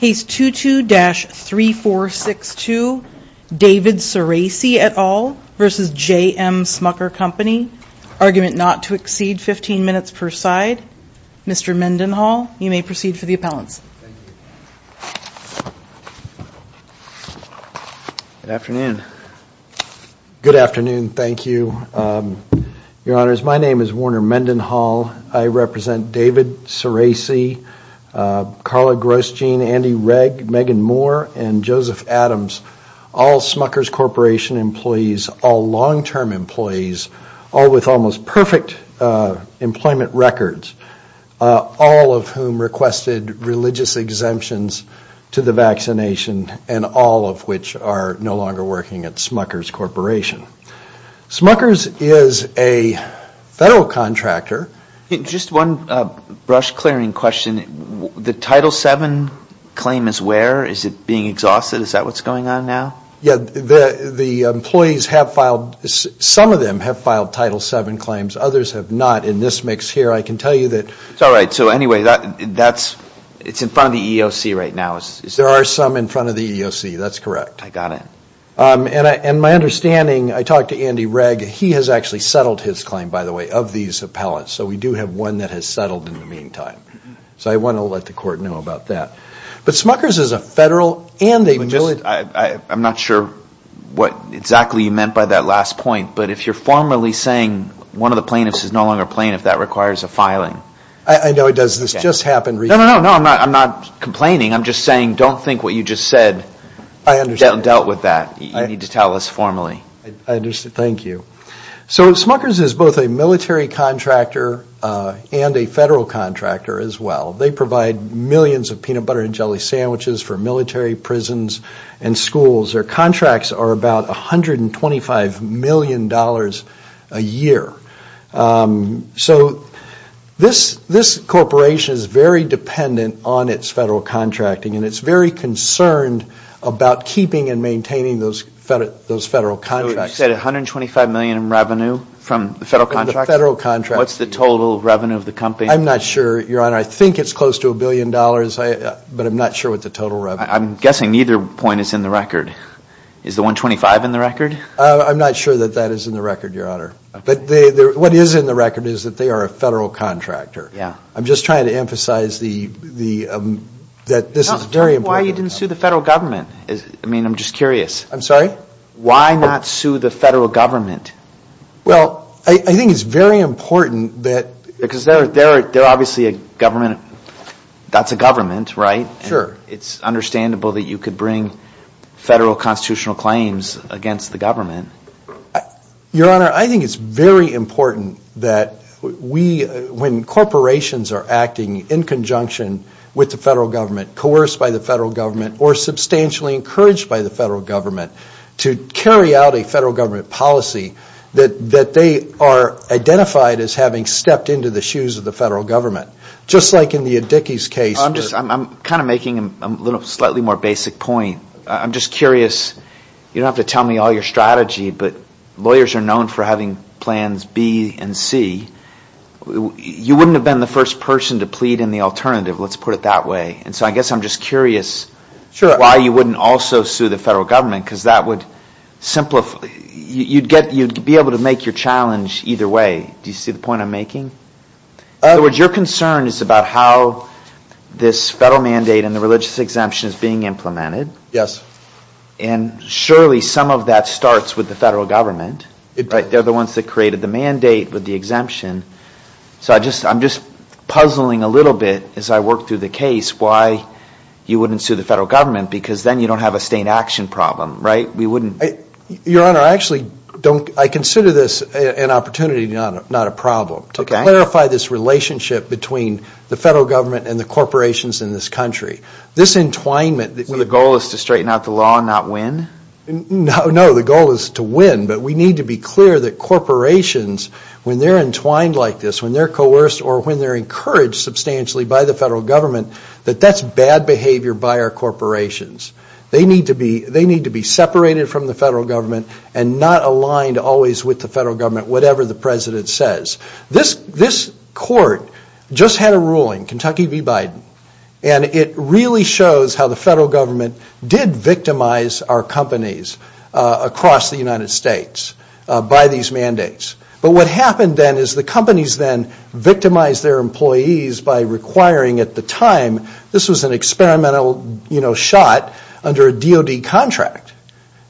Case 22-3462, David Ciraci et al. v. JM Smucker Company Argument not to exceed 15 minutes per side Mr. Mendenhall, you may proceed for the appellants Good afternoon Good afternoon, thank you Your honors, my name is Warner Mendenhall, I represent David Ciraci Carla Grosjean, Andy Regg, Megan Moore, and Joseph Adams, all Smuckers Corporation employees, all long-term employees all with almost perfect employment records, all of whom requested religious exemptions to the vaccination and all of which are no longer working at Smuckers Corporation Smuckers is a federal contractor Just one brush-clearing question, the Title VII claim is where? Is it being exhausted? Is that what's going on now? Yeah, the employees have filed, some of them have filed Title VII claims, others have not, in this mix here, I can tell you that Alright, so anyway, that's, it's in front of the EEOC right now There are some in front of the EEOC, that's correct I got it And my understanding, I talked to Andy Regg, he has actually settled his claim, by the way, of these appellants, so we do have one that has settled in the meantime So I want to let the court know about that But Smuckers is a federal, and a military I'm not sure what exactly you meant by that last point, but if you're formally saying one of the plaintiffs is no longer a plaintiff, that requires a filing I know it does, this just happened recently No, no, no, I'm not complaining, I'm just saying don't think what you just said I understand Dealt with that, you need to tell us formally I understand, thank you So Smuckers is both a military contractor and a federal contractor as well They provide millions of peanut butter and jelly sandwiches for military prisons and schools Their contracts are about $125 million a year So this corporation is very dependent on its federal contracting, and it's very concerned about keeping and maintaining those federal contracts You said $125 million in revenue from the federal contracts? From the federal contracts What's the total revenue of the company? I'm not sure, your honor, I think it's close to a billion dollars, but I'm not sure what the total revenue is I'm guessing neither point is in the record Is the $125 million in the record? I'm not sure that that is in the record, your honor But what is in the record is that they are a federal contractor I'm just trying to emphasize that this is very important Tell me why you didn't sue the federal government, I'm just curious I'm sorry? Why not sue the federal government? Well, I think it's very important that Because they're obviously a government, that's a government, right? Sure It's understandable that you could bring federal constitutional claims against the government Your honor, I think it's very important that When corporations are acting in conjunction with the federal government, coerced by the federal government Or substantially encouraged by the federal government To carry out a federal government policy That they are identified as having stepped into the shoes of the federal government Just like in the Addicke's case I'm kind of making a slightly more basic point I'm just curious, you don't have to tell me all your strategy But lawyers are known for having plans B and C You wouldn't have been the first person to plead in the alternative, let's put it that way And so I guess I'm just curious Sure Why you wouldn't also sue the federal government Because that would simplify You'd be able to make your challenge either way Do you see the point I'm making? In other words, your concern is about how This federal mandate and the religious exemption is being implemented Yes And surely some of that starts with the federal government They're the ones that created the mandate with the exemption So I'm just puzzling a little bit as I work through the case Why you wouldn't sue the federal government Because then you don't have a state action problem, right? Your honor, I consider this an opportunity, not a problem To clarify this relationship between the federal government And the corporations in this country This entwinement So the goal is to straighten out the law and not win? No, the goal is to win But we need to be clear that corporations When they're entwined like this, when they're coerced Or when they're encouraged substantially by the federal government That that's bad behavior by our corporations They need to be separated from the federal government And not aligned always with the federal government Whatever the president says This court just had a ruling, Kentucky v. Biden And it really shows how the federal government Did victimize our companies across the United States By these mandates But what happened then is the companies then Victimized their employees by requiring at the time This was an experimental shot under a DOD contract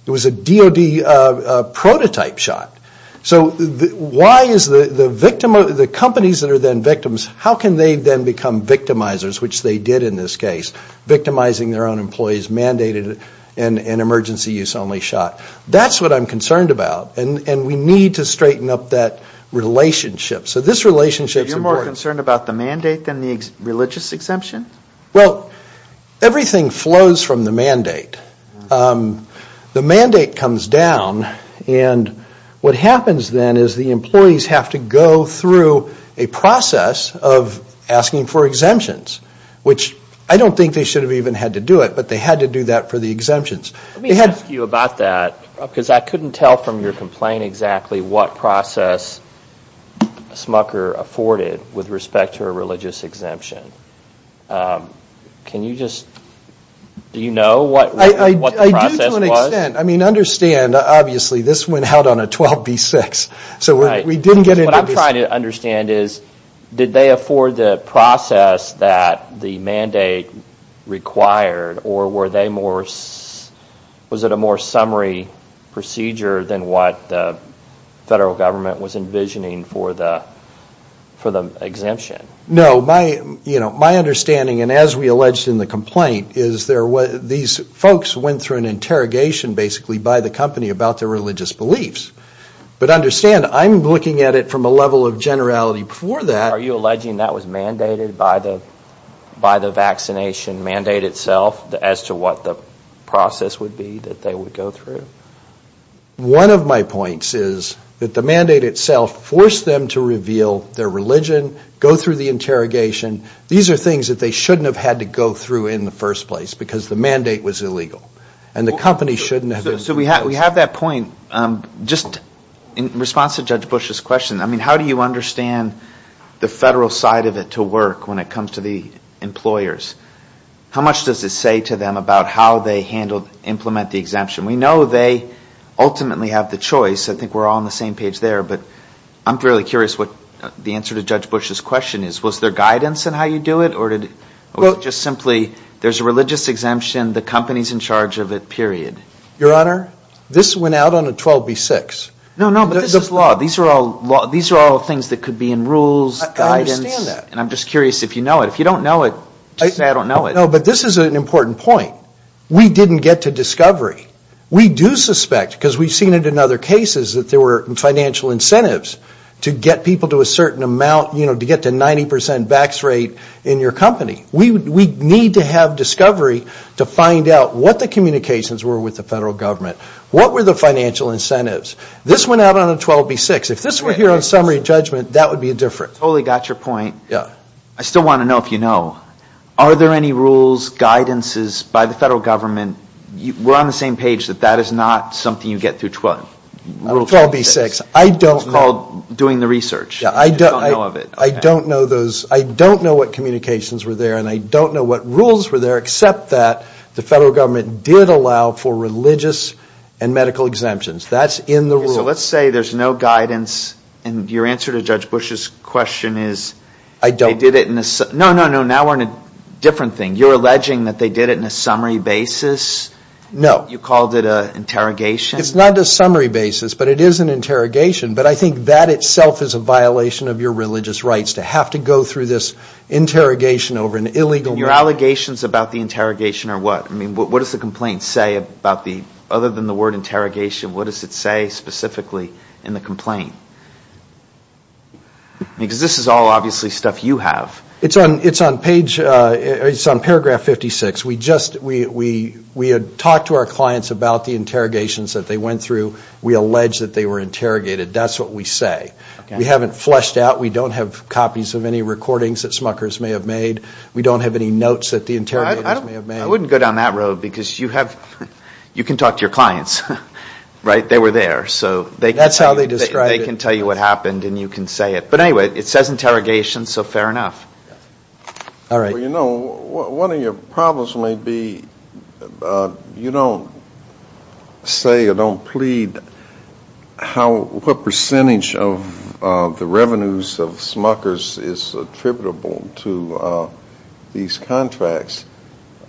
It was a DOD prototype shot So why is the companies that are then victims How can they then become victimizers Which they did in this case Victimizing their own employees Mandated an emergency use only shot That's what I'm concerned about And we need to straighten up that relationship So this relationship is important So you're more concerned about the mandate Than the religious exemption? Well, everything flows from the mandate The mandate comes down And what happens then is the employees have to go through A process of asking for exemptions Which I don't think they should have even had to do it But they had to do that for the exemptions Let me ask you about that Because I couldn't tell from your complaint exactly What process Smucker afforded With respect to a religious exemption Can you just Do you know what the process was? I mean, understand Obviously this went out on a 12B6 So we didn't get into this What I'm trying to understand is Did they afford the process that the mandate required Or was it a more summary procedure Than what the federal government was envisioning For the exemption? No, my understanding And as we alleged in the complaint These folks went through an interrogation Basically by the company About their religious beliefs But understand I'm looking at it from a level of generality Before that Are you alleging that was mandated By the vaccination mandate itself As to what the process would be That they would go through? One of my points is That the mandate itself Forced them to reveal their religion Go through the interrogation These are things that they shouldn't have had to go through In the first place Because the mandate was illegal And the company shouldn't have So we have that point Just in response to Judge Bush's question I mean, how do you understand The federal side of it to work When it comes to the employers? How much does it say to them About how they handled Implement the exemption? We know they ultimately have the choice I think we're all on the same page there But I'm fairly curious What the answer to Judge Bush's question is Was there guidance in how you do it? Or was it just simply There's a religious exemption The company's in charge of it, period? Your Honor This went out on a 12B6 No, no, but this is law These are all things that could be in rules Guidance I understand that And I'm just curious if you know it If you don't know it Just say I don't know it No, but this is an important point We didn't get to discovery We do suspect Because we've seen it in other cases That there were financial incentives To get people to a certain amount You know, to get to 90% Vax rate In your company We need to have discovery To find out what the communications were With the federal government What were the financial incentives? This went out on a 12B6 If this were here on summary judgment That would be different Totally got your point Yeah I still want to know if you know Are there any rules, guidances By the federal government We're on the same page That that is not something you get through 12B6 12B6 I don't know It's called doing the research Yeah, I don't know of it I don't know those I don't know what communications were there And I don't know what rules were there Except that the federal government Did allow for religious and medical exemptions That's in the rules So let's say there's no guidance And your answer to Judge Bush's question is I don't No, no, no Now we're in a different thing You're alleging that they did it in a summary basis No You called it an interrogation It's not a summary basis But it is an interrogation But I think that itself is a violation Of your religious rights To have to go through this interrogation Over an illegal And your allegations about the interrogation are what I mean, what does the complaint say About the Other than the word interrogation What does it say specifically in the complaint Because this is all obviously stuff you have It's on, it's on page It's on paragraph 56 We just, we We had talked to our clients About the interrogations that they went through We allege that they were interrogated That's what we say We haven't fleshed out We don't have copies of any recordings That Smuckers may have made We don't have any notes That the interrogators may have made I wouldn't go down that road Because you have You can talk to your clients Right, they were there So they That's how they described it They can tell you what happened And you can say it But anyway, it says interrogation So fair enough All right Well you know One of your problems may be You don't Say or don't plead How, what percentage of The revenues of Smuckers Is attributable to These contracts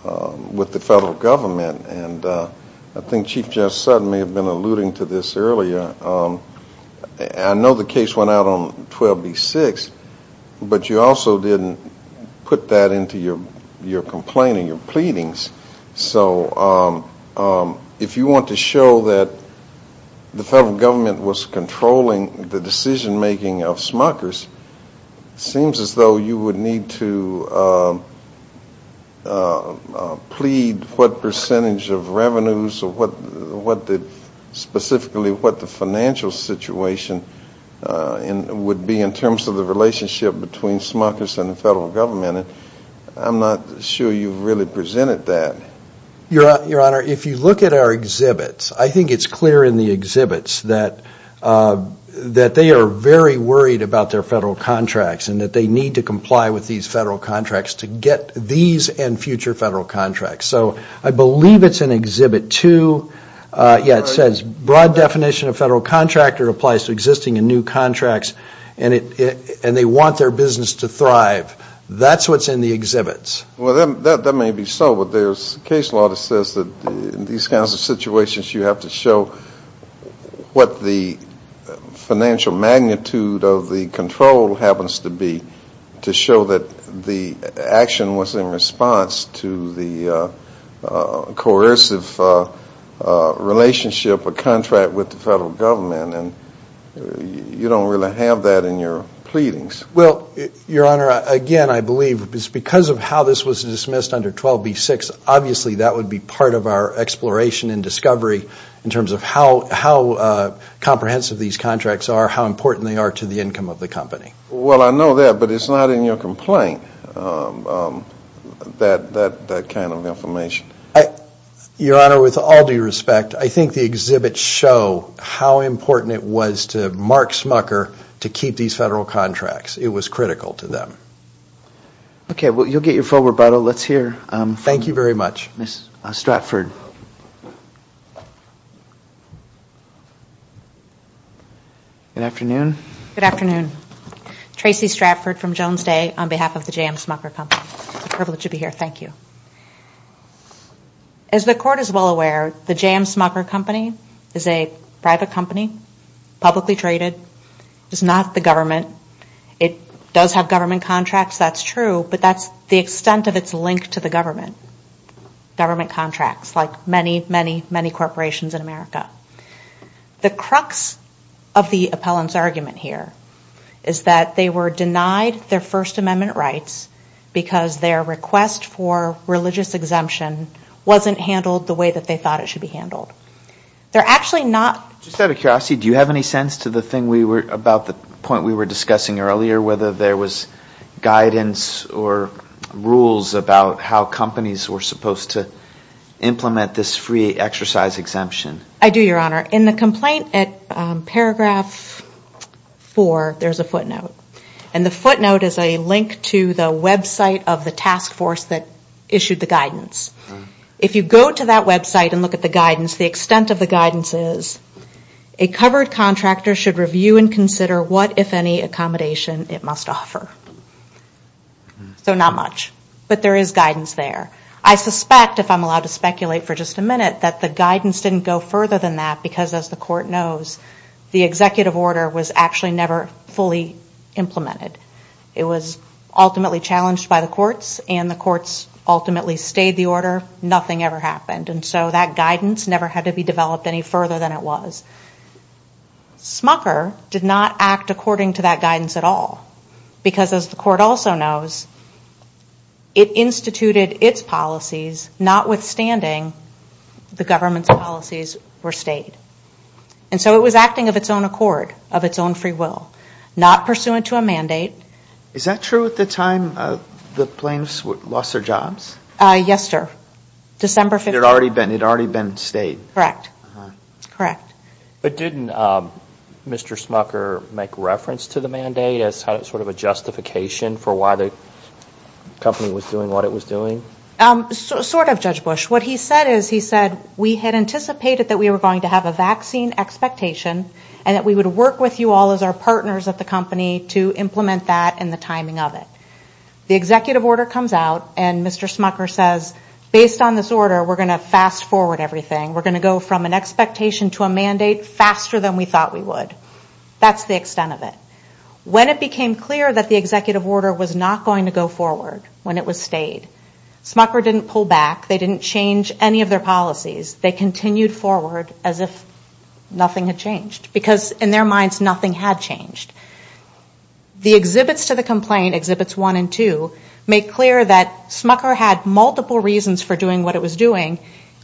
With the federal government And I think Chief Judge Sutton May have been alluding to this earlier I know the case went out on 12B6 But you also didn't Put that into your Your complaint or your pleadings So If you want to show that The federal government was controlling The decision making of Smuckers Seems as though you would need to Plead what percentage of revenues Or what the Specifically what the financial situation Would be in terms of the relationship Between Smuckers and the federal government And I'm not sure you've really presented that I think it's clear in the exhibits That they are very worried About their federal contracts And that they need to comply With these federal contracts To get these and future federal contracts So I believe it's in exhibit two Yeah it says Broad definition of federal contractor Applies to existing and new contracts And they want their business to thrive That's what's in the exhibits Well that may be so But there's a case law that says That in these kinds of situations You have to show What the financial magnitude Of the control happens to be To show that the action was in response To the coercive relationship Or contract with the federal government And you don't really have that in your pleadings Well your honor Again I believe Because of how this was dismissed under 12b-6 Obviously that would be part of our Exploration and discovery In terms of how Comprehensive these contracts are How important they are to the income of the company Well I know that But it's not in your complaint That kind of information Your honor with all due respect I think the exhibits show How important it was to Mark Smucker To keep these federal contracts It was critical to them Okay well you'll get your full rebuttal Let's hear Thank you very much Ms. Stratford Good afternoon Good afternoon Tracy Stratford from Jones Day On behalf of the J.M. Smucker Company It's a privilege to be here Thank you As the court is well aware The J.M. Smucker Company Is a private company Publicly traded It's not the government It does have government contracts That's true But that's the extent of its link to the government Government contracts Like many, many, many corporations in America The crux of the appellant's argument here Is that they were denied their First Amendment rights Because their request for religious exemption Wasn't handled the way that they thought it should be handled They're actually not Just out of curiosity Do you have any sense to the thing we were About the point we were discussing earlier Whether there was guidance Or rules about how companies were supposed to Implement this free exercise exemption I do, your honor In the complaint at paragraph 4 There's a footnote And the footnote is a link to the website of the task force That issued the guidance If you go to that website and look at the guidance The extent of the guidance is A covered contractor should review and consider What, if any, accommodation it must offer So not much But there is guidance there I suspect, if I'm allowed to speculate for just a minute That the guidance didn't go further than that Because as the court knows The executive order was actually never fully implemented It was ultimately challenged by the courts And the courts ultimately stayed the order Nothing ever happened And so that guidance never had to be developed Any further than it was Smucker did not act according to that guidance at all Because as the court also knows It instituted its policies Notwithstanding the government's policies were stayed And so it was acting of its own accord Of its own free will Not pursuant to a mandate Is that true at the time the plaintiffs lost their jobs? Yes, sir December 15th It had already been stayed Correct But didn't Mr. Smucker make reference to the mandate As sort of a justification for why the company was doing what it was doing? Sort of, Judge Bush What he said is He said we had anticipated that we were going to have a vaccine expectation And that we would work with you all as our partners at the company To implement that and the timing of it The executive order comes out And Mr. Smucker says Based on this order We're going to fast forward everything We're going to go from an expectation to a mandate Faster than we thought we would That's the extent of it When it became clear that the executive order Was not going to go forward When it was stayed Smucker didn't pull back They didn't change any of their policies They continued forward As if nothing had changed Because in their minds nothing had changed The exhibits to the complaint Exhibits 1 and 2 Make clear that Smucker had multiple reasons For doing what it was doing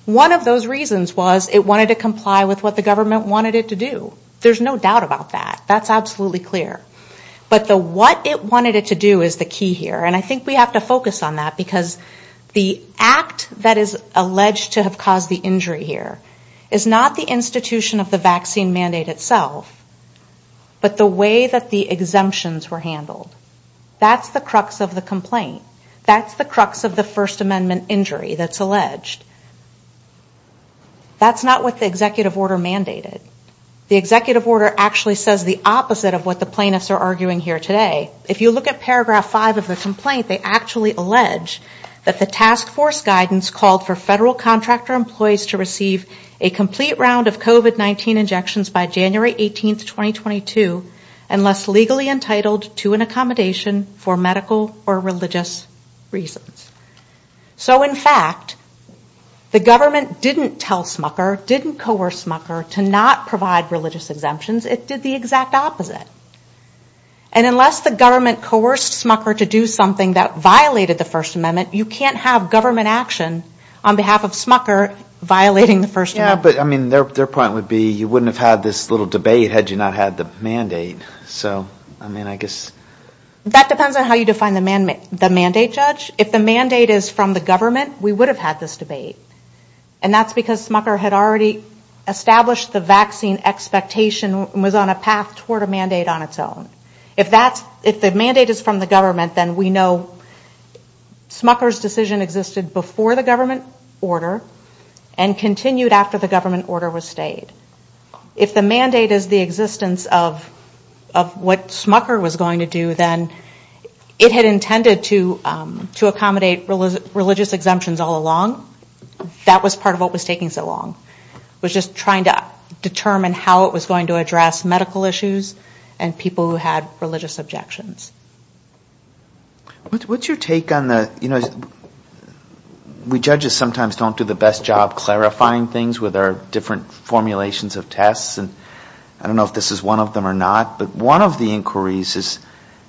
One of those reasons was It wanted to comply with what the government wanted it to do There's no doubt about that That's absolutely clear But the what it wanted it to do Is the key here And I think we have to focus on that Because the act that is alleged To have caused the injury here Is not the institution of the vaccine mandate itself But the way that the exemptions were handled That's the crux of the complaint That's the crux of the First Amendment injury That's alleged That's not what the executive order mandated The executive order actually says the opposite Of what the plaintiffs are arguing here today If you look at paragraph 5 of the complaint They actually allege That the task force guidance Called for federal contractor employees To receive a complete round of COVID-19 injections By January 18, 2022 Unless legally entitled to an accommodation For medical or religious reasons So in fact The government didn't tell Smucker Didn't coerce Smucker To not provide religious exemptions It did the exact opposite And unless the government coerced Smucker To do something that violated the First Amendment You can't have government action On behalf of Smucker Violating the First Amendment But I mean their point would be You wouldn't have had this little debate Had you not had the mandate So I mean I guess That depends on how you define the mandate judge If the mandate is from the government We would have had this debate And that's because Smucker had already Established the vaccine expectation And was on a path toward a mandate on its own If that's If the mandate is from the government Then we know Smucker's decision existed before the government order And continued after the government order was stayed If the mandate is the existence of Of what Smucker was going to do Then it had intended to To accommodate religious exemptions all along That was part of what was taking so long It was just trying to Determine how it was going to address medical issues And people who had religious objections What's your take on the We judges sometimes don't do the best job Clarifying things with our different Formulations of tests I don't know if this is one of them or not But one of the inquiries is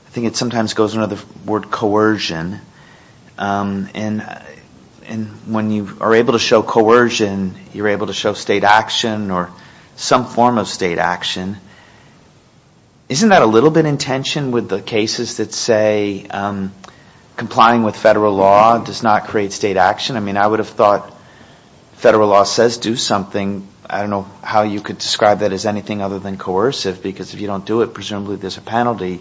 I think it sometimes goes under the word coercion And when you are able to show coercion You're able to show state action Or some form of state action Isn't that a little bit in tension With the cases that say Complying with federal law Does not create state action I mean I would have thought Federal law says do something I don't know how you could describe that As anything other than coercive Because if you don't do it Presumably there's a penalty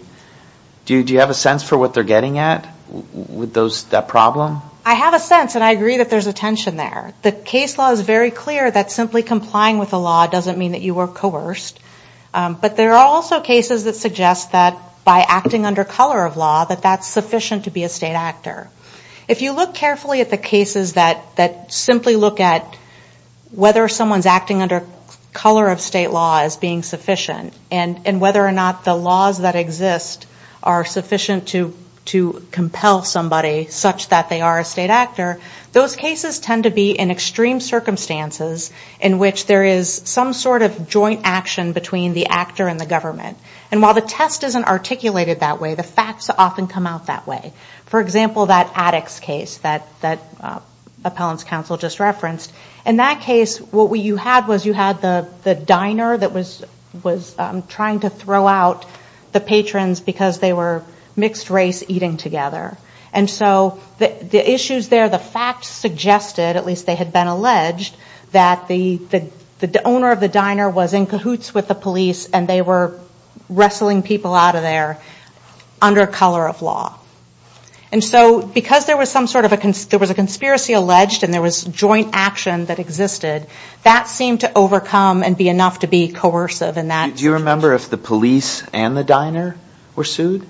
Do you have a sense for what they're getting at With that problem? I have a sense And I agree that there's a tension there The case law is very clear That simply complying with the law Doesn't mean that you were coerced But there are also cases that suggest That by acting under color of law That that's sufficient to be a state actor If you look carefully at the cases That simply look at Whether someone's acting under color of state law As being sufficient And whether or not the laws that exist Are sufficient to compel somebody Such that they are a state actor Those cases tend to be in extreme circumstances In which there is some sort of joint action Between the actor and the government And while the test isn't articulated that way The facts often come out that way For example that addicts case That appellant's counsel just referenced In that case what you had You had the diner that was Trying to throw out the patrons Because they were mixed race eating together And so the issues there The facts suggested At least they had been alleged That the owner of the diner Was in cahoots with the police And they were wrestling people out of there Under color of law And so because there was some sort of There was a conspiracy alleged And there was joint action that existed That seemed to overcome And be enough to be coercive in that Do you remember if the police and the diner Were sued?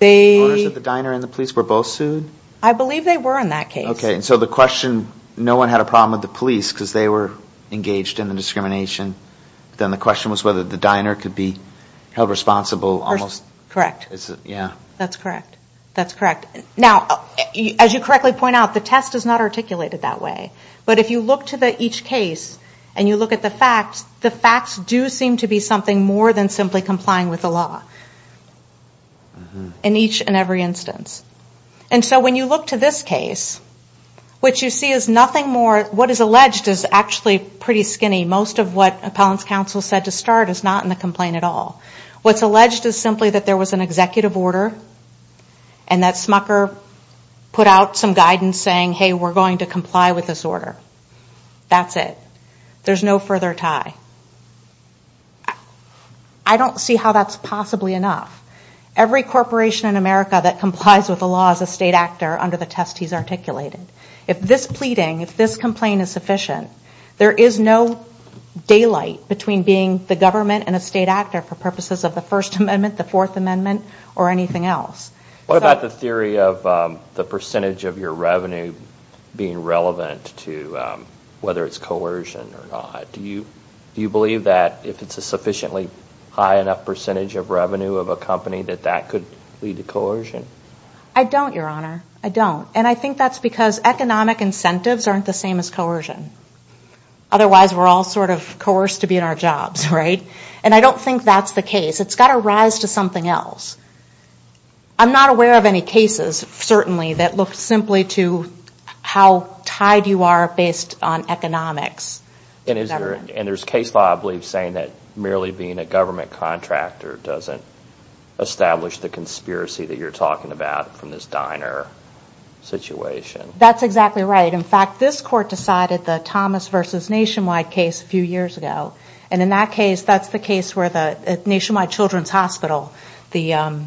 The diner and the police were both sued? I believe they were in that case Okay so the question No one had a problem with the police Because they were engaged in the discrimination Then the question was whether the diner Could be held responsible Correct Yeah That's correct That's correct Now as you correctly point out The test is not articulated that way But if you look to each case And you look at the facts The facts do seem to be something more Than simply complying with the law In each and every instance And so when you look to this case What you see is nothing more What is alleged is actually pretty skinny Most of what appellant's counsel said to start Is not in the complaint at all What's alleged is simply That there was an executive order And that smucker put out some guidance Saying hey we're going to comply with this order That's it There's no further tie I don't see how that's possibly enough Every corporation in America That complies with the law as a state actor Under the test he's articulated If this pleading If this complaint is sufficient There is no daylight Between being the government and a state actor For purposes of the first amendment The fourth amendment Or anything else What about the theory of The percentage of your revenue Being relevant to Whether it's coercion or not Do you believe that If it's a sufficiently High enough percentage of revenue of a company That that could lead to coercion I don't your honor I don't And I think that's because Economic incentives aren't the same as coercion Otherwise we're all sort of Coerced to be in our jobs right And I don't think that's the case It's got to rise to something else I'm not aware of any cases Certainly that look simply to How tied you are Based on economics And is there And there's case law I believe Saying that merely being a government contractor Doesn't establish the conspiracy That you're talking about From this diner situation That's exactly right In fact this court decided The Thomas versus Nationwide case A few years ago And in that case That's the case where the Nationwide Children's Hospital The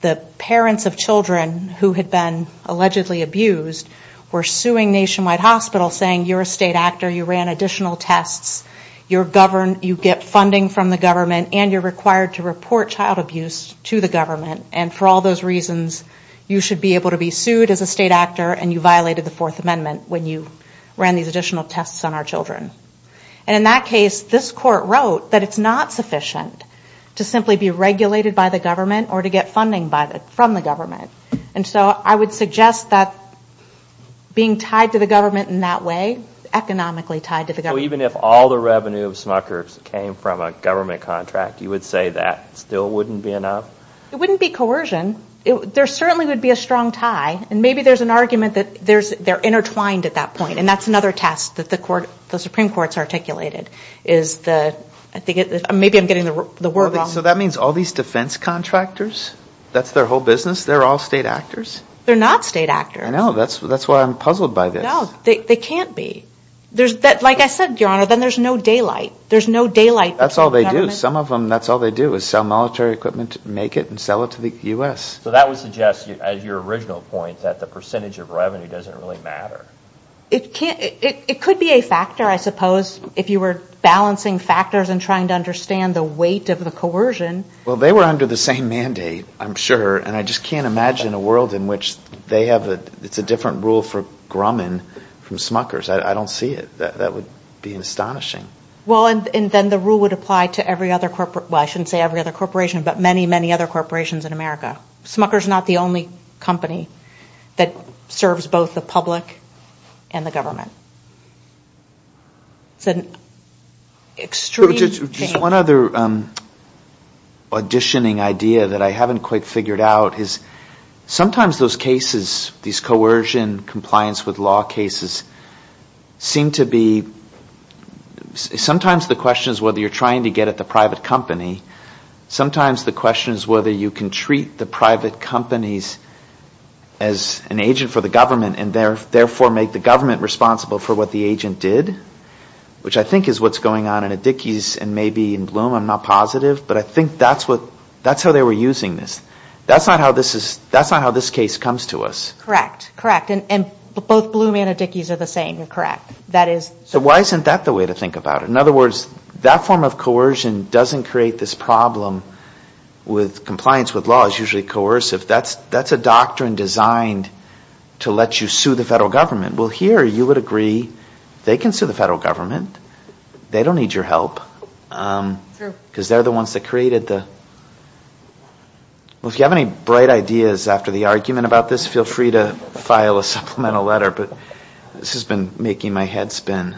The parents of children Who had been allegedly abused Were suing Nationwide Hospital Saying you're a state actor You ran additional tests You're governed You get funding from the government And you're required to report Child abuse to the government And for all those reasons You should be able to be sued As a state actor And you violated the Fourth Amendment When you ran these additional tests On our children And in that case This court wrote That it's not sufficient To simply be regulated by the government Or to get funding from the government And so I would suggest that Being tied to the government in that way Economically tied to the government So even if all the revenue of Smucker Came from a government contract You would say that Still wouldn't be enough? It wouldn't be coercion There certainly would be a strong tie And maybe there's an argument That they're intertwined at that point And that's another test That the Supreme Court's articulated Is the Maybe I'm getting the word wrong So that means All these defense contractors That's their whole business They're all state actors? They're not state actors I know That's why I'm puzzled by this No, they can't be Like I said, Your Honor Then there's no daylight There's no daylight That's all they do Some of them That's all they do Is sell military equipment Make it and sell it to the U.S. So that would suggest As your original point That the percentage of revenue Doesn't really matter It could be a factor, I suppose If you were balancing factors And trying to understand The weight of the coercion Well, they were under the same mandate I'm sure And I just can't imagine A world in which They have It's a different rule for Grumman From Smucker's I don't see it That would be astonishing Well, and then the rule would apply To every other Well, I shouldn't say Every other corporation But many, many other corporations In America Smucker's not the only company That serves both the public And the government It's an extreme change Just one other auditioning idea That I haven't quite figured out Is sometimes those cases These coercion compliance with law cases Seem to be Sometimes the question is Whether you're trying to get At the private company Sometimes the question is Whether you can treat The private companies As an agent for the government And therefore make the government Responsible for what the agent did Which I think is what's going on In Adiki's and maybe in Bloom I'm not positive But I think that's what That's how they were using this That's not how this is That's not how this case comes to us Correct, correct And both Bloom and Adiki's Are the same, correct That is So why isn't that the way to think about it? In other words That form of coercion Doesn't create this problem With compliance with law Is usually coercive That's a doctrine designed To let you sue the federal government Well here you would agree They can sue the federal government They don't need your help True Because they're the ones that created the Well if you have any bright ideas After the argument about this Feel free to file a supplemental letter But this has been making my head spin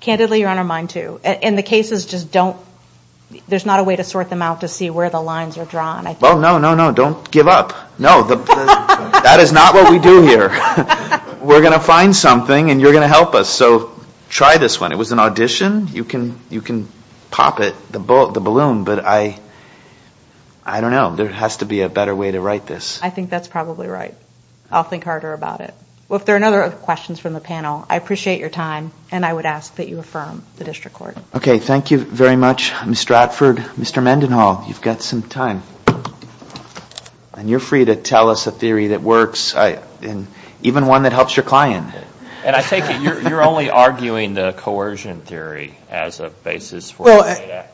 Candidly you're on our mind too And the cases just don't There's not a way to sort them out To see where the lines are drawn Well no, no, no Don't give up No That is not what we do here We're going to find something And you're going to help us So try this one It was an audition You can You can Pop it The balloon But I I don't know There has to be a better way to write this I think that's probably right I'll think harder about it Well if there are no other questions from the panel I appreciate your time And I would ask that you affirm The district court Okay, thank you very much Mr. Atford Mr. Mendenhall You've got some time And you're free to tell us a theory that works Even one that helps your client And I take it You're only arguing the coercion theory As a basis for Well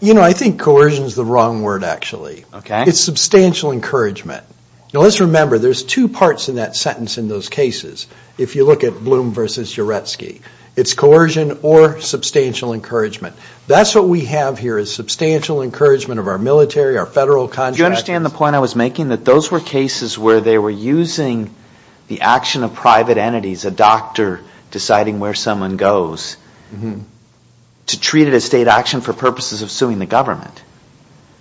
You know, I think coercion is the wrong word actually Okay It's substantial encouragement Now let's remember There's two parts in that sentence in those cases If you look at Bloom v. Uretsky It's coercion or substantial encouragement That's what we have here Is substantial encouragement of our military Our federal contractors Do you understand the point I was making? That those were cases where they were using The action of private entities A doctor deciding where someone goes To treat it as state action For purposes of suing the government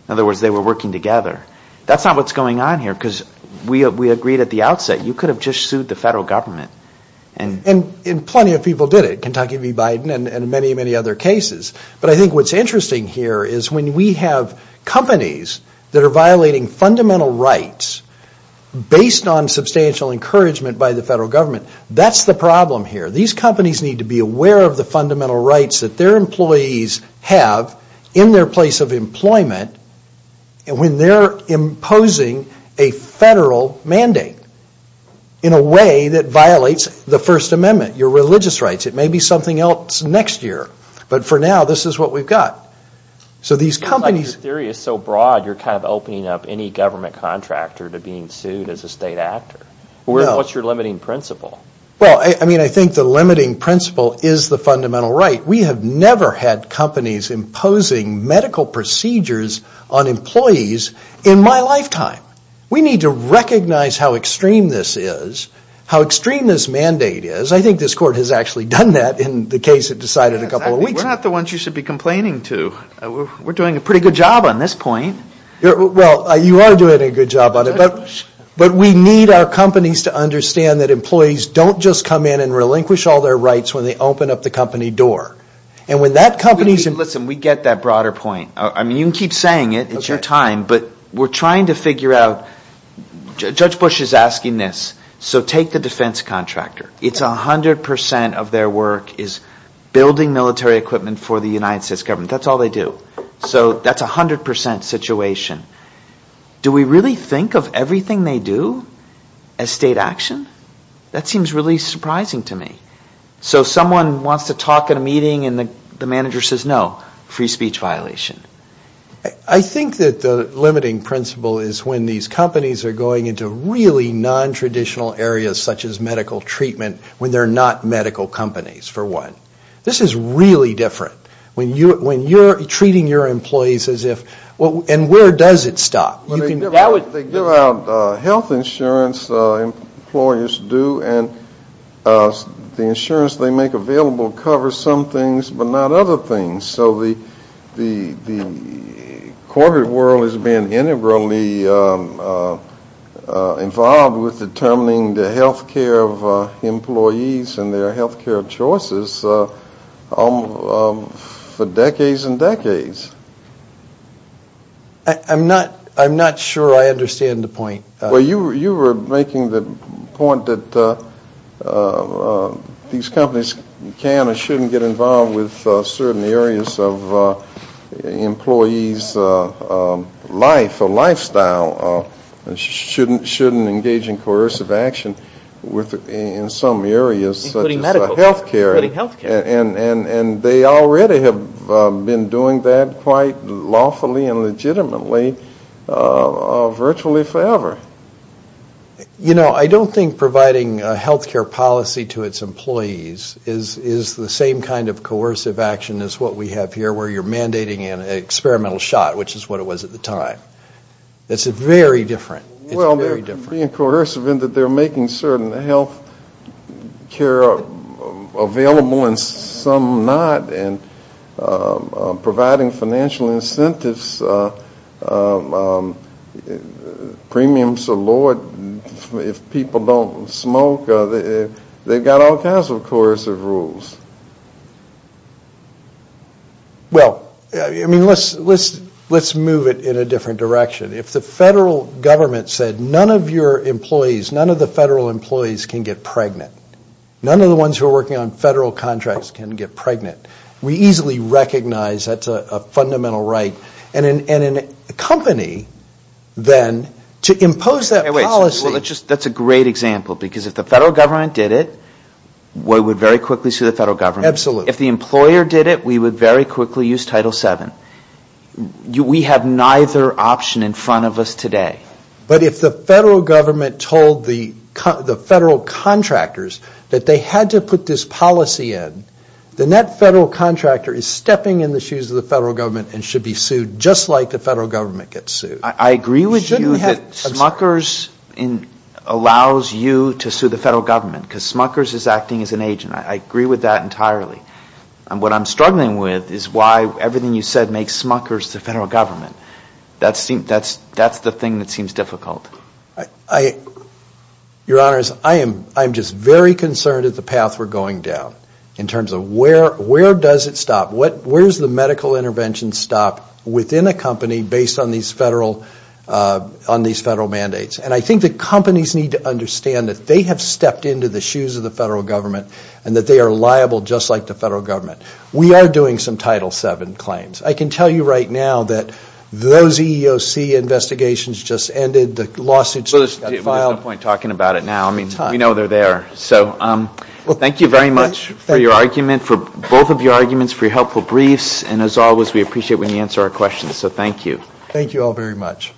In other words, they were working together That's not what's going on here Because we agreed at the outset You could have just sued the federal government And plenty of people did it Kentucky v. Biden And many, many other cases But I think what's interesting here Is when we have companies That are violating fundamental rights Based on substantial encouragement By the federal government That's the problem here These companies need to be aware Of the fundamental rights That their employees have In their place of employment And when they're imposing A federal mandate In a way that violates The First Amendment Your religious rights It may be something else next year But for now, this is what we've got So these companies It's like your theory is so broad You're kind of opening up Any government contractor To being sued as a state actor What's your limiting principle? Well, I think the limiting principle Is the fundamental right We have never had companies Imposing medical procedures On employees in my lifetime We need to recognize How extreme this is How extreme this mandate is I think this court has actually done that In the case it decided a couple of weeks ago We're not the ones you should be complaining to We're doing a pretty good job on this point Well, you are doing a good job on it But we need our companies To understand that employees Don't just come in And relinquish all their rights When they open up the company door And when that company Listen, we get that broader point You can keep saying it It's your time But we're trying to figure out Judge Bush is asking this So take the defense contractor It's 100% of their work Is building military equipment For the United States government That's all they do So that's 100% situation Do we really think of everything they do As state action? That seems really surprising to me So someone wants to talk at a meeting And the manager says no Free speech violation I think that the limiting principle Is when these companies Are going into really non-traditional areas Such as medical treatment When they're not medical companies, for one This is really different When you're treating your employees as if And where does it stop? They give out health insurance Employers do And the insurance they make available Covers some things But not other things So the corporate world Is being integrally involved With determining the health care of employees And their health care choices For decades and decades I'm not sure I understand the point Well, you were making the point That these companies Can and shouldn't get involved With certain areas of employees' life Or lifestyle And shouldn't engage in coercive action In some areas Such as health care And they already have been doing that Quite lawfully and legitimately Virtually forever You know, I don't think providing Health care policy to its employees Is the same kind of coercive action As what we have here Where you're mandating an experimental shot Which is what it was at the time It's very different Well, they're being coercive In that they're making certain Health care available And some not And providing financial incentives Premiums are lowered If people don't smoke They've got all kinds of coercive rules Well, I mean, let's move it In a different direction If the federal government said None of your employees Can get pregnant None of the ones who are working On federal contracts Can get pregnant We easily recognize That's a fundamental right And in a company Then to impose that policy That's a great example Because if the federal government did it We would very quickly sue The federal government If the employer did it We would very quickly use Title VII We have neither option In front of us today But if the federal government Told the federal contractors That they had to put this policy in Then that federal contractor Is stepping in the shoes Of the federal government And should be sued Just like the federal government gets sued I agree with you That Smuckers allows you To sue the federal government Because Smuckers is acting as an agent I agree with that entirely And what I'm struggling with Is why everything you said Makes Smuckers the federal government That's the thing that seems difficult Your honors I'm just very concerned At the path we're going down In terms of where does it stop Where does the medical intervention stop Within a company Based on these federal mandates And I think the companies Need to understand That they have stepped Into the shoes of the federal government And that they are liable Just like the federal government We are doing some Title VII claims I can tell you right now That those EEOC investigations Just ended The lawsuits just got filed Well there's no point Talking about it now We know they're there So thank you very much For your argument For both of your arguments For your helpful briefs And as always We appreciate when you answer our questions So thank you Thank you all very much